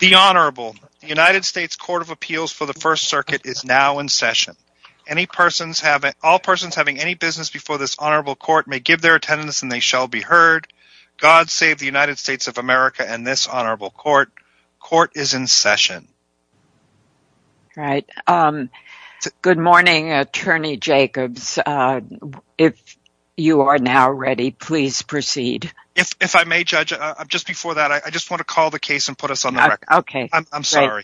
The Honorable, the United States Court of Appeals for the First Circuit is now in session. All persons having any business before this Honorable Court may give their attendance and they shall be heard. God save the United States of America and this Honorable Court. Court is in session. Right. Good morning, Attorney Jacobs. If you are now ready, please proceed. If I may, Judge, just before that, I just want to call the case and put us on the record. Okay. I'm sorry.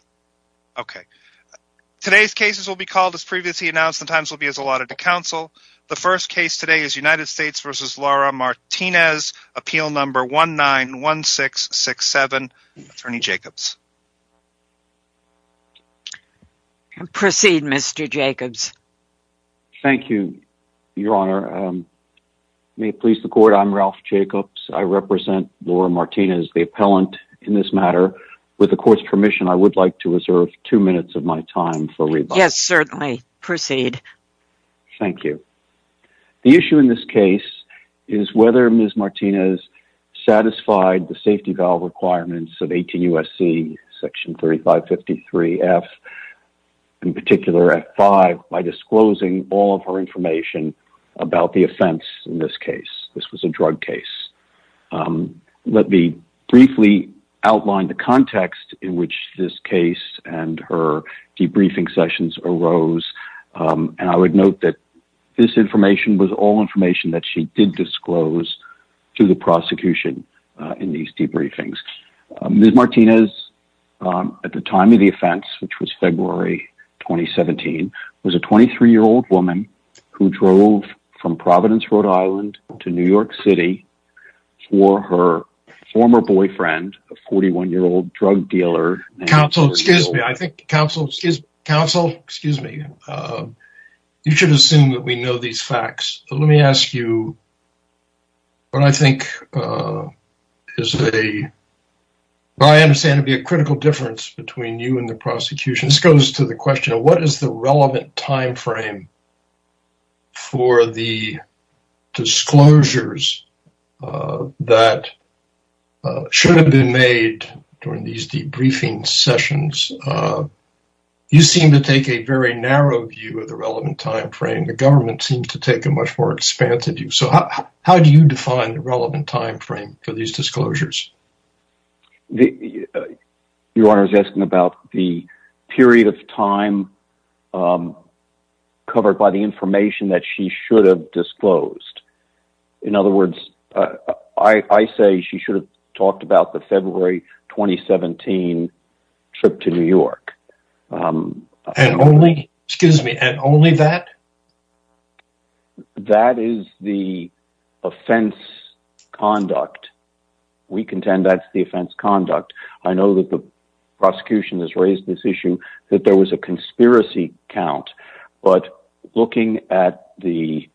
Okay. Today's cases will be called as previously announced. The times will be as allotted to counsel. The first case today is United States v. Laura Martinez, Appeal No. 191667, Attorney Jacobs. Proceed, Mr. Jacobs. Thank you, Your Honor. May it please the Court, I'm Ralph Jacobs. I represent Laura Martinez, the appellant in this matter. With the Court's permission, I would like to reserve two minutes of my time for rebuttal. Yes, certainly. Proceed. Thank you. The issue in this case is whether Ms. Martinez satisfied the safety valve requirements of 18 U.S.C. Section 3553F, in particular, F5, by disclosing all of her information about the offense in this case. This was a drug case. Let me briefly outline the context in which this case and her debriefing sessions arose, and I would note that this information was all information that she did disclose to the prosecution in these debriefings. Ms. Martinez, at the time of the offense, which was February 2017, was a 23-year-old woman who drove from Providence, Rhode Island, to New York City for her former boyfriend, a 41-year-old drug dealer. Counsel, excuse me. I think, counsel, excuse me. Counsel, excuse me. You should assume that we know these facts. Let me ask you what I think is a, what I understand to be a critical difference between you and the prosecution. This goes to the question of what is the relevant timeframe for the disclosures that should have been made during these debriefing sessions. You seem to take a very narrow view of the relevant timeframe. The government seems to take a much more expansive view. So, how do you define the relevant timeframe for these disclosures? Your Honor is asking about the period of time covered by the information that she should have disclosed. In other words, I say she should have talked about the February 2017 trip to New York. And only, excuse me, and only that? That is the offense conduct. We contend that's the offense conduct. I know that the prosecution has raised this issue, that there was a conspiracy count, but looking at the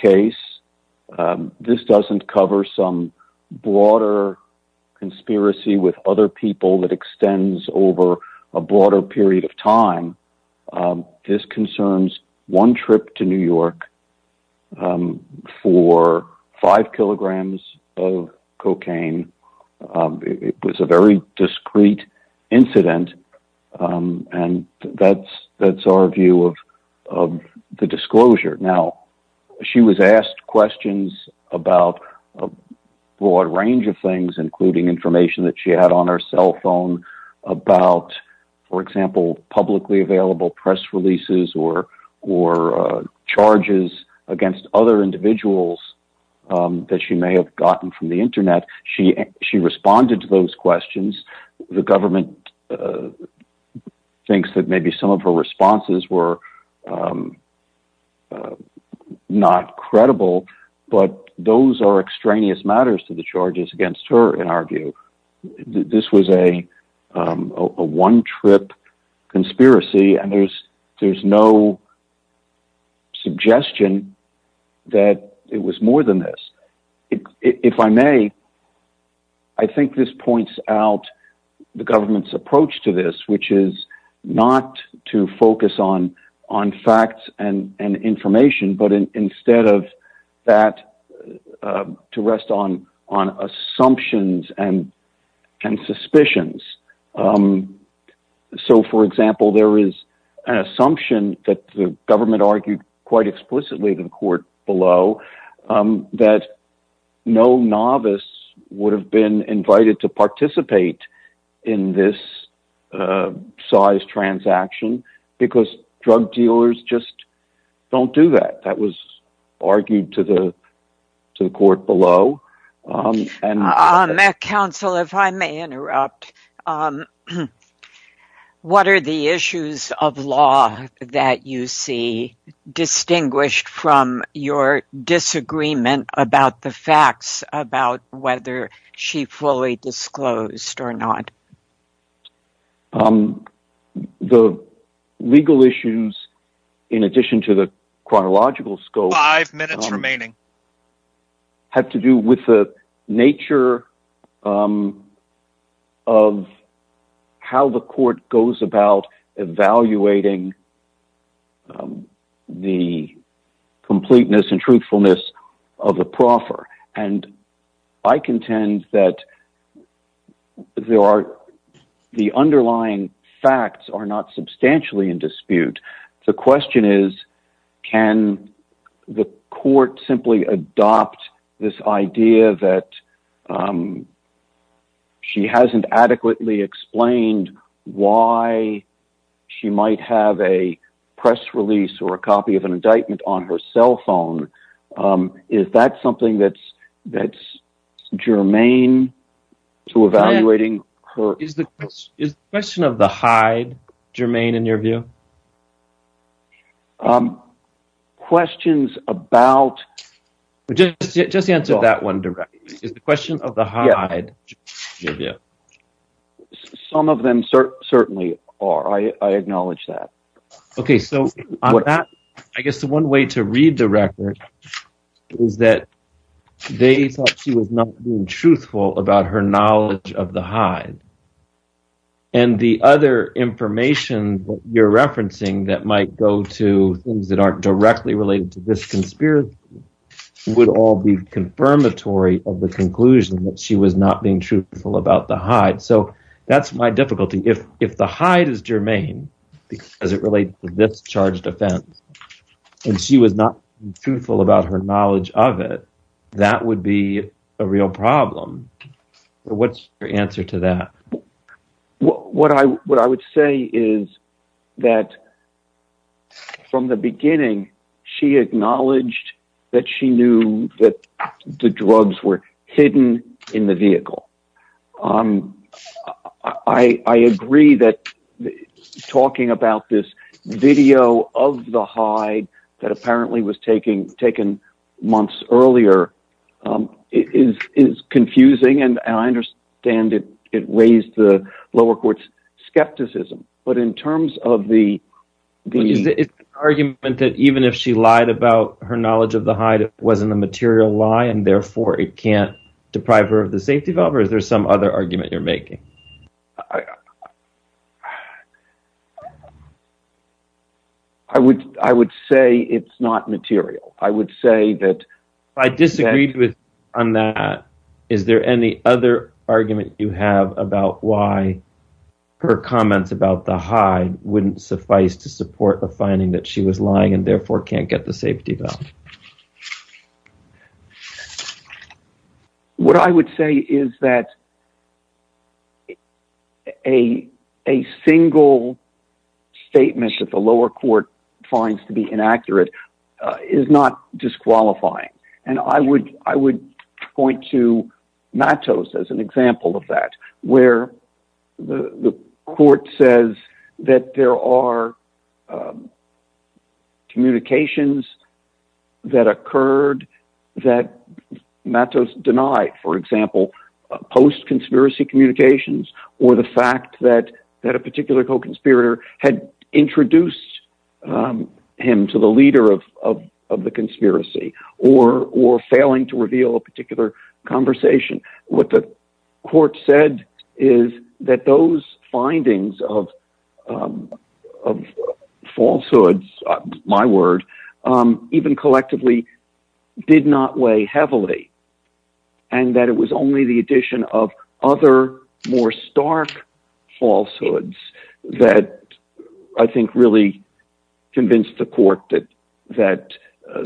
case, this doesn't cover some broader conspiracy with other people that extends over a broader period of time. This concerns one trip to New York for five kilograms of cocaine. It was a very broad range of things, including information that she had on her cell phone about, for example, publicly available press releases or charges against other individuals that she may have gotten from the internet. She responded to those questions. The government thinks that maybe some of her responses were not credible, but those are extraneous matters to the charges against her, in our view. This was a one trip conspiracy, and there's no suggestion that it was more than this. If I may, I think this points out the government's approach to this, which is not to focus on facts and information, but instead of that, to rest on assumptions and suspicions. So, for example, there is an assumption that the government argued quite explicitly in the court below that no novice would have been invited to participate in this size transaction, because drug dealers just don't do that. That was argued to the court below. Matt Counsel, if I may interrupt, what are the issues of law that you see distinguished from your disagreement about the facts about whether she fully disclosed or not? The legal issues, in addition to the chronological scope, have to do with the nature of how the court goes about evaluating the completeness and truthfulness of the proffer. I contend that the underlying facts are not substantially in dispute. The question is, can the court simply adopt this idea that she hasn't adequately explained why she might have a press release or a copy of an indictment on her cell phone? Is that something that's germane to evaluating? Is the question of the hide germane in your view? Questions about... Just answer that one directly. Is the question of the hide germane in your view? Some of them certainly are. I acknowledge that. Okay. I guess the one way to read the record is that they thought she was not being truthful about her knowledge of the hide. The other information that you're referencing that might go to things that aren't directly related to this conspiracy would all be confirmatory of the conclusion that she was not being truthful about the hide. That's my difficulty. If the discharge defense and she was not truthful about her knowledge of it, that would be a real problem. What's your answer to that? What I would say is that from the beginning, she acknowledged that she knew that the drugs were video of the hide that apparently was taken months earlier is confusing. I understand it raised the lower court's skepticism, but in terms of the... It's an argument that even if she lied about her knowledge of the hide, it wasn't a material lie, and therefore it can't deprive her of the safety valve, or is there some other argument you're I would say it's not material. I would say that... I disagreed with on that. Is there any other argument you have about why her comments about the hide wouldn't suffice to support the finding that she was lying and therefore can't get the safety valve? What I would say is that a single statement that the lower court finds to be inaccurate is not disqualifying, and I would point to Matos as an example of that, where the court says that there are communications that occurred that Matos denied, for example, post-conspiracy communications or the fact that a particular co-conspirator had introduced him to the leader of the conspiracy or failing to reveal a particular conversation. What the court said is that those findings of falsehoods, my word, even collectively did not weigh heavily, and that it was only the addition of other more stark falsehoods that I think really convinced the court that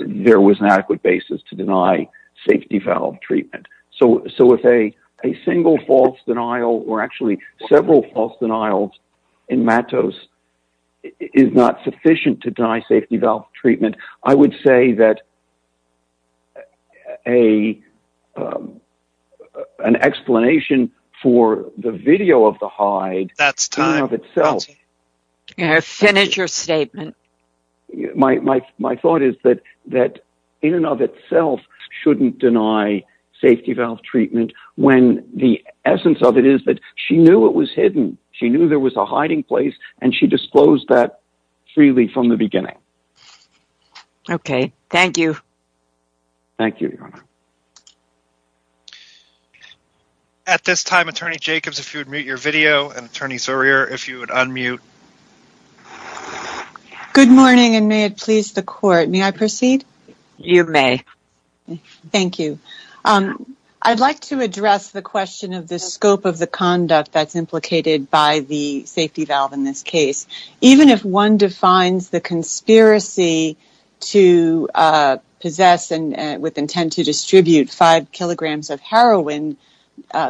there was an adequate basis to deny safety valve treatment. So if a denial in Matos is not sufficient to deny safety valve treatment, I would say that an explanation for the video of the hide in and of itself shouldn't deny safety valve treatment when the essence of it is that she knew it was hidden. She knew there was a hiding place, and she disclosed that freely from the beginning. Okay, thank you. Thank you, Your Honor. At this time, Attorney Jacobs, if you would mute your video, and Attorney Sourier, if you would unmute. Good morning, and may it please the court, may I proceed? You may. Thank you. I'd like to address the question of the scope of the conduct that's implicated by the safety valve in this case. Even if one defines the conspiracy to possess and with intent to distribute 5 kilograms of heroin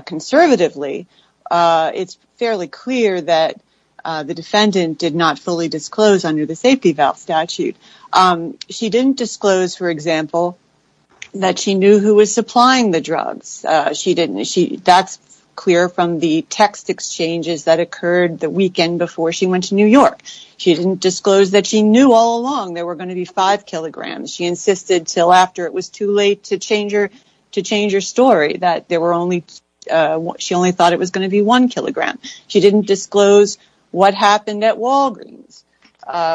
conservatively, it's fairly clear that the defendant did not fully disclose under the safety valve statute. She didn't disclose, for example, that she knew who was supplying the drugs. She didn't. That's clear from the text exchanges that occurred the weekend before she went to New York. She didn't disclose that she knew all along there were going to be 5 kilograms. She insisted until after it was too late to change her story, that she only thought it was going to be 1 kilogram. She didn't disclose what happened at Walgreens,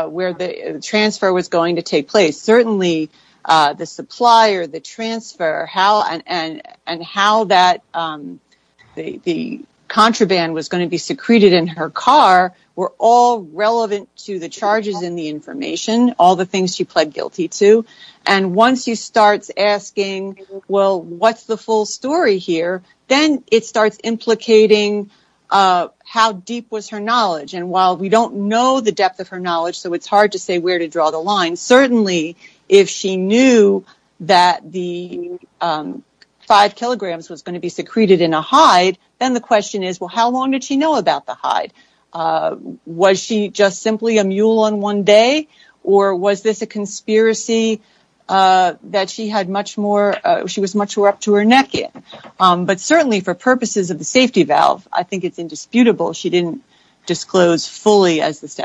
where the transfer was going to take place. Certainly, the supplier, the transfer, and how the contraband was going to be secreted in her car were all relevant to the charges in the information, all the things she pled guilty to. Once she starts asking, well, what's the full story here, then it starts implicating how deep was her knowledge. While we don't know the depth of her knowledge, so it's hard to say where to if she knew that the 5 kilograms was going to be secreted in a hide, then the question is, well, how long did she know about the hide? Was she just simply a mule on one day, or was this a conspiracy that she was much more up to her neck in? But certainly, for purposes of the safety valve, I think it's indisputable she didn't disclose fully as the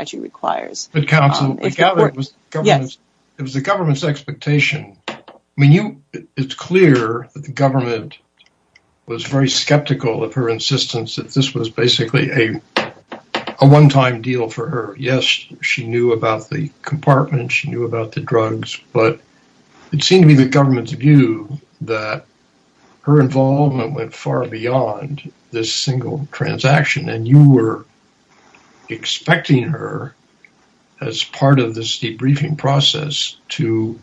government's expectation. I mean, it's clear that the government was very skeptical of her insistence that this was basically a one-time deal for her. Yes, she knew about the compartment, she knew about the drugs, but it seemed to be the government's view that her involvement went far beyond this single transaction, and you were expecting her as part of this debriefing process to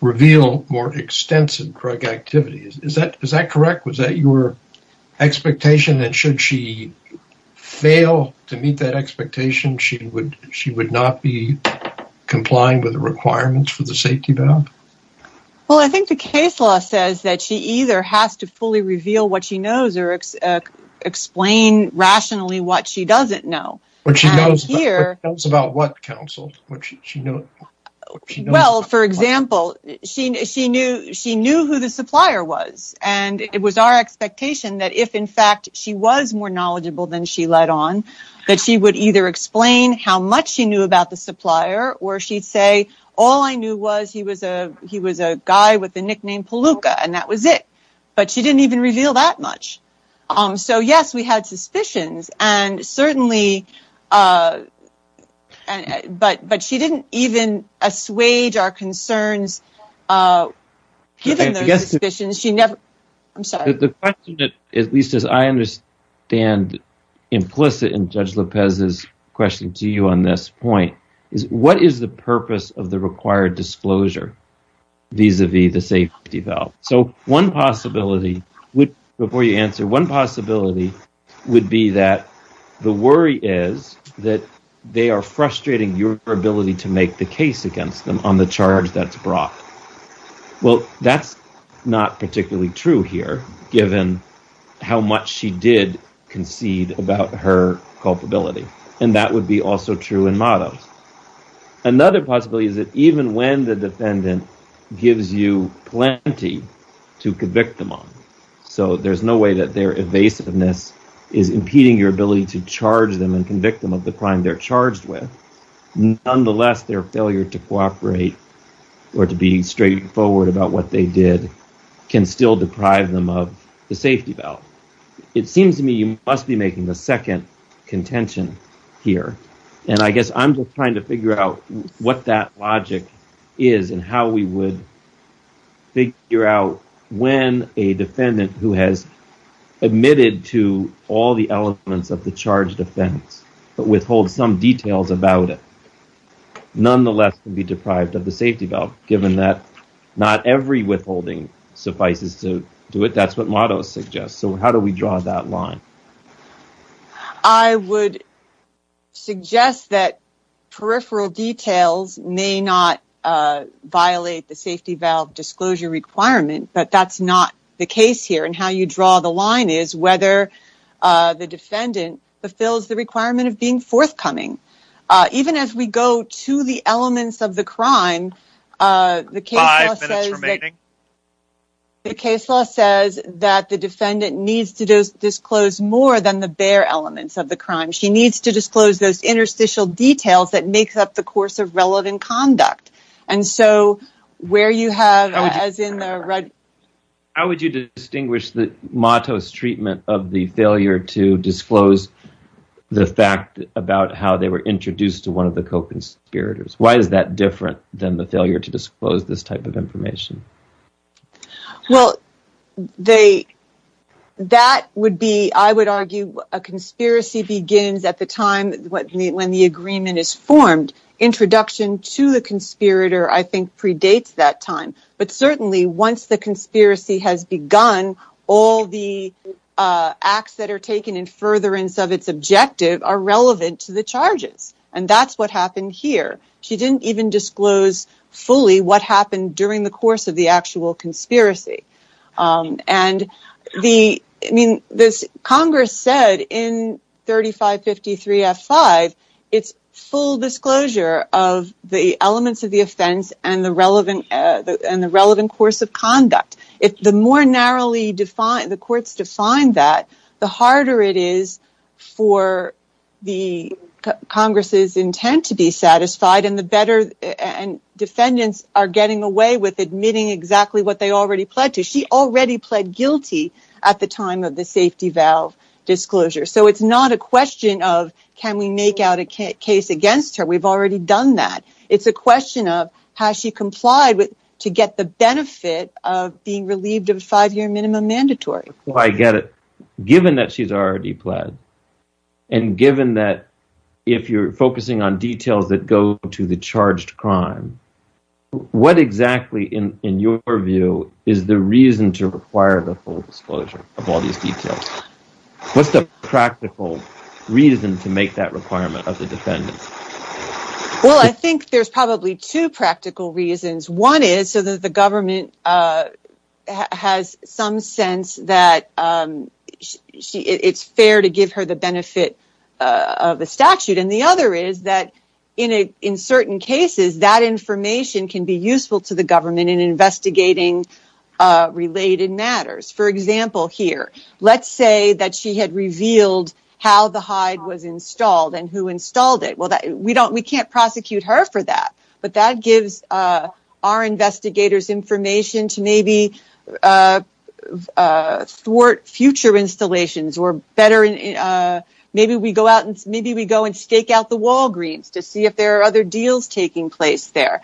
reveal more extensive drug activities. Is that correct? Was that your expectation that should she fail to meet that expectation, she would not be complying with the requirements for the safety valve? Well, I think the case law says that she either has to fully reveal what she knows or explain rationally what she doesn't know. What she knows about what, counsel? Well, for example, she knew who the supplier was, and it was our expectation that if in fact she was more knowledgeable than she let on, that she would either explain how much she knew about the supplier, or she'd say, all I knew was he was a guy with the nickname Palooka, and that was it. But she didn't even reveal that much. So, yes, we had suspicions, and certainly, but she didn't even assuage our concerns given those suspicions. The question, at least as I understand implicit in Judge Lopez's question to you on this point, is what is the purpose of the required disclosure vis-a-vis the safety valve? So, one possibility would, before you answer, one possibility would be that the worry is that they are frustrating your ability to make the case against them on the charge that's brought. Well, that's not particularly true here, given how much she did concede about her culpability, and that would be also true in mottos. Another possibility is that even when the defendant gives you plenty to convict them on, so there's no way that their evasiveness is impeding your ability to charge them and convict them of the crime they're charged with. Nonetheless, their failure to cooperate or to be straightforward about what they did can still deprive them of the safety valve. It seems to me you must be making the second contention here, and I guess I'm just trying to figure out what that logic is and how we would figure out when a defendant who has admitted to all the elements of the charge defense but withholds some details about it nonetheless can be deprived of the safety valve, given that not every withholding suffices to do it. That's what mottos suggest. So, how do we draw that line? I would suggest that peripheral details may not violate the safety valve disclosure requirement, but that's not the case here, and how you draw the line is whether the defendant fulfills the requirement of being forthcoming. Even as we go to the elements of the crime, the case law says that the defendant needs to disclose more than the bare elements of the crime. She needs to disclose those interstitial details that make up the course of relevant conduct. How would you distinguish the mottos treatment of the failure to disclose the fact about how they were introduced to one of the co-conspirators? Why is that different than the failure to disclose this type of information? Well, I would argue a conspiracy begins at the time when the agreement is formed. Introduction to the conspirator, I think, predates that time, but certainly once the conspiracy has begun, all the acts that are taken in furtherance of its objective are relevant to the charges, and that's what happened here. She didn't even disclose fully what happened during the course of the actual conspiracy. Congress said in 3553F5, it's full disclosure of the elements of the offense and the relevant course of conduct. The more narrowly the courts define that, the harder it is for the Congress's intent to be satisfied, and defendants are getting away with admitting exactly what they already pledged. She already pled guilty at the time of the safety valve disclosure, so it's not a question of can we make out a case against her. We've already done that. It's a question of how she complied to get the benefit of being relieved of five-year minimum mandatory. I get it. Given that she's already pled, and given that if you're focusing on details that go to the charged crime, what exactly, in your view, is the reason to require the full disclosure of all these details? What's the practical reason to make that requirement of the defendant? Well, I think there's probably two practical reasons. One is so that the government has some sense that it's fair to give her the benefit of a statute, and the other is that in certain cases, that information can be useful to the government in investigating related matters. For example, here, let's say that she had revealed how the hide was installed, and who installed it. Well, we can't prosecute her for that, but that gives our investigators information to maybe thwart future installations. Maybe we go and stake out the Walgreens to see if there are other deals taking place there.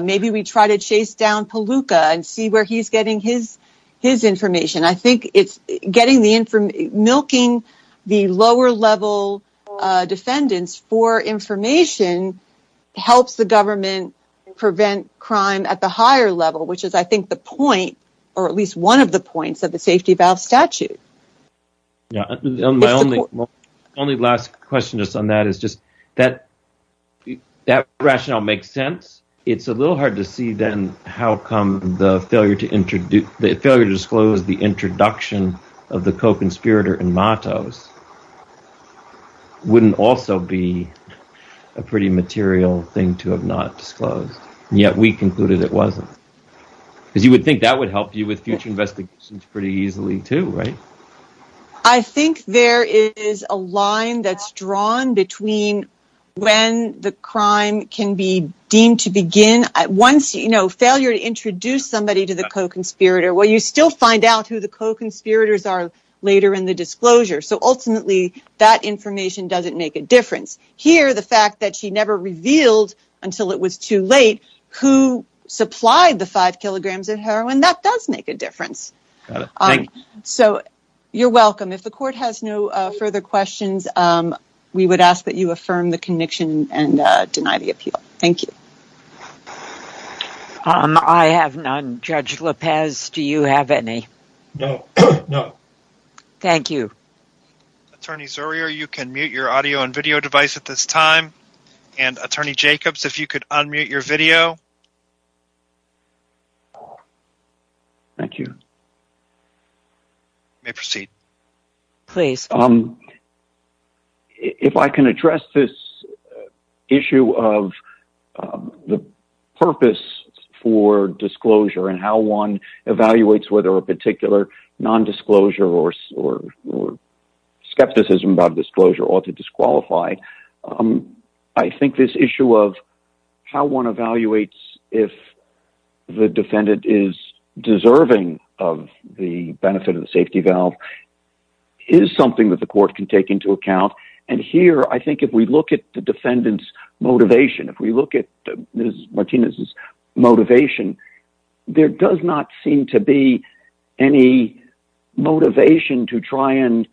Maybe we try to chase down Palooka and see where he's getting his information. I think milking the lower-level defendants for and prevent crime at the higher level, which is, I think, the point, or at least one of the points, of the safety valve statute. My only last question just on that is just that rationale makes sense. It's a little hard to see, then, how come the failure to disclose the introduction of the co-conspirator and mottos wouldn't also be a pretty material thing to have not disclosed, yet we concluded it wasn't? Because you would think that would help you with future investigations pretty easily, too, right? I think there is a line that's drawn between when the crime can be deemed to begin. Once, you know, failure to introduce somebody to the co-conspirator, well, you still find out who the co-conspirators are later in the disclosure. So, ultimately, that information doesn't make a difference. Here, the fact that she never revealed until it was too late who supplied the five kilograms of heroin, that does make a difference. So, you're welcome. If the court has no further questions, we would ask that you affirm the conviction and deny the appeal. Thank you. I have none. Judge Lopez, do you have any? No. No. Thank you. Attorney Zurier, you can mute your audio and video device at this time. And, Attorney Jacobs, if you could unmute your video. Thank you. You may proceed. Please. If I can address this issue of the purpose for disclosure and how one non-disclosure or skepticism about disclosure ought to disqualify, I think this issue of how one evaluates if the defendant is deserving of the benefit of the safety valve is something that the court can take into account. And here, I think if we look at the motivation to try and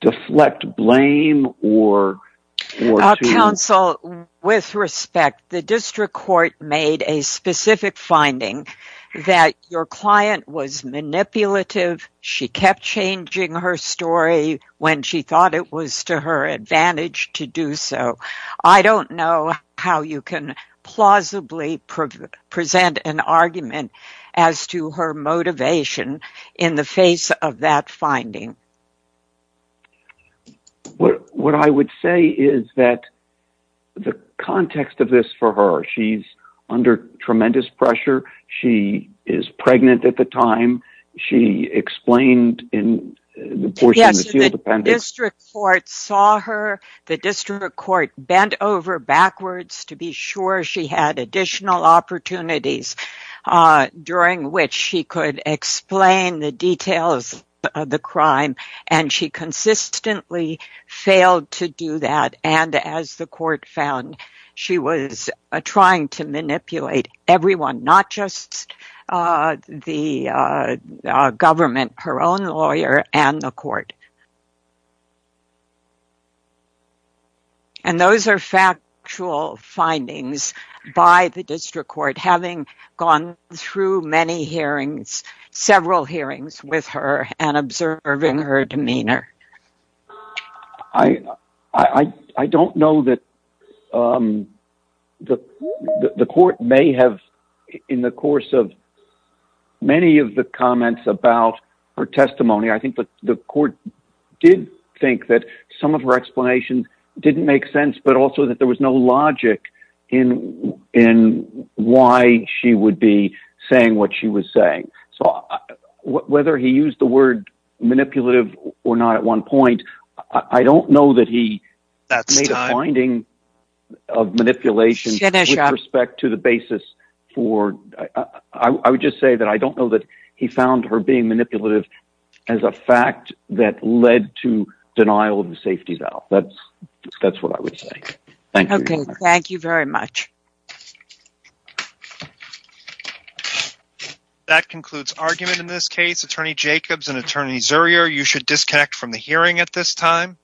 deflect blame or… Counsel, with respect, the district court made a specific finding that your client was manipulative. She kept changing her story when she thought it was to her advantage to do so. I don't know how you can plausibly present an argument as to her motivation in the face of that finding. What I would say is that the context of this for her, she's under tremendous pressure. She is pregnant at the time. She explained in the portion of the sealed appendix… She had additional opportunities during which she could explain the details of the crime, and she consistently failed to do that. And as the court found, she was trying to manipulate everyone, not just the government, her own lawyer, and the court. And those are factual findings by the district court, having gone through many hearings, several hearings with her, and observing her demeanor. I don't know that the court may have, in the course of many of the comments about her testimony, the court did think that some of her explanations didn't make sense, but also that there was no logic in why she would be saying what she was saying. So whether he used the word manipulative or not at one point, I don't know that he made a finding of manipulation with respect to the basis for… I would just say that I don't know that he found her being manipulative as a fact that led to denial of the safety valve. That's what I would say. Thank you. Okay, thank you very much. That concludes argument in this case. Attorney Jacobs and Attorney Zurier, you should disconnect from the hearing at this time.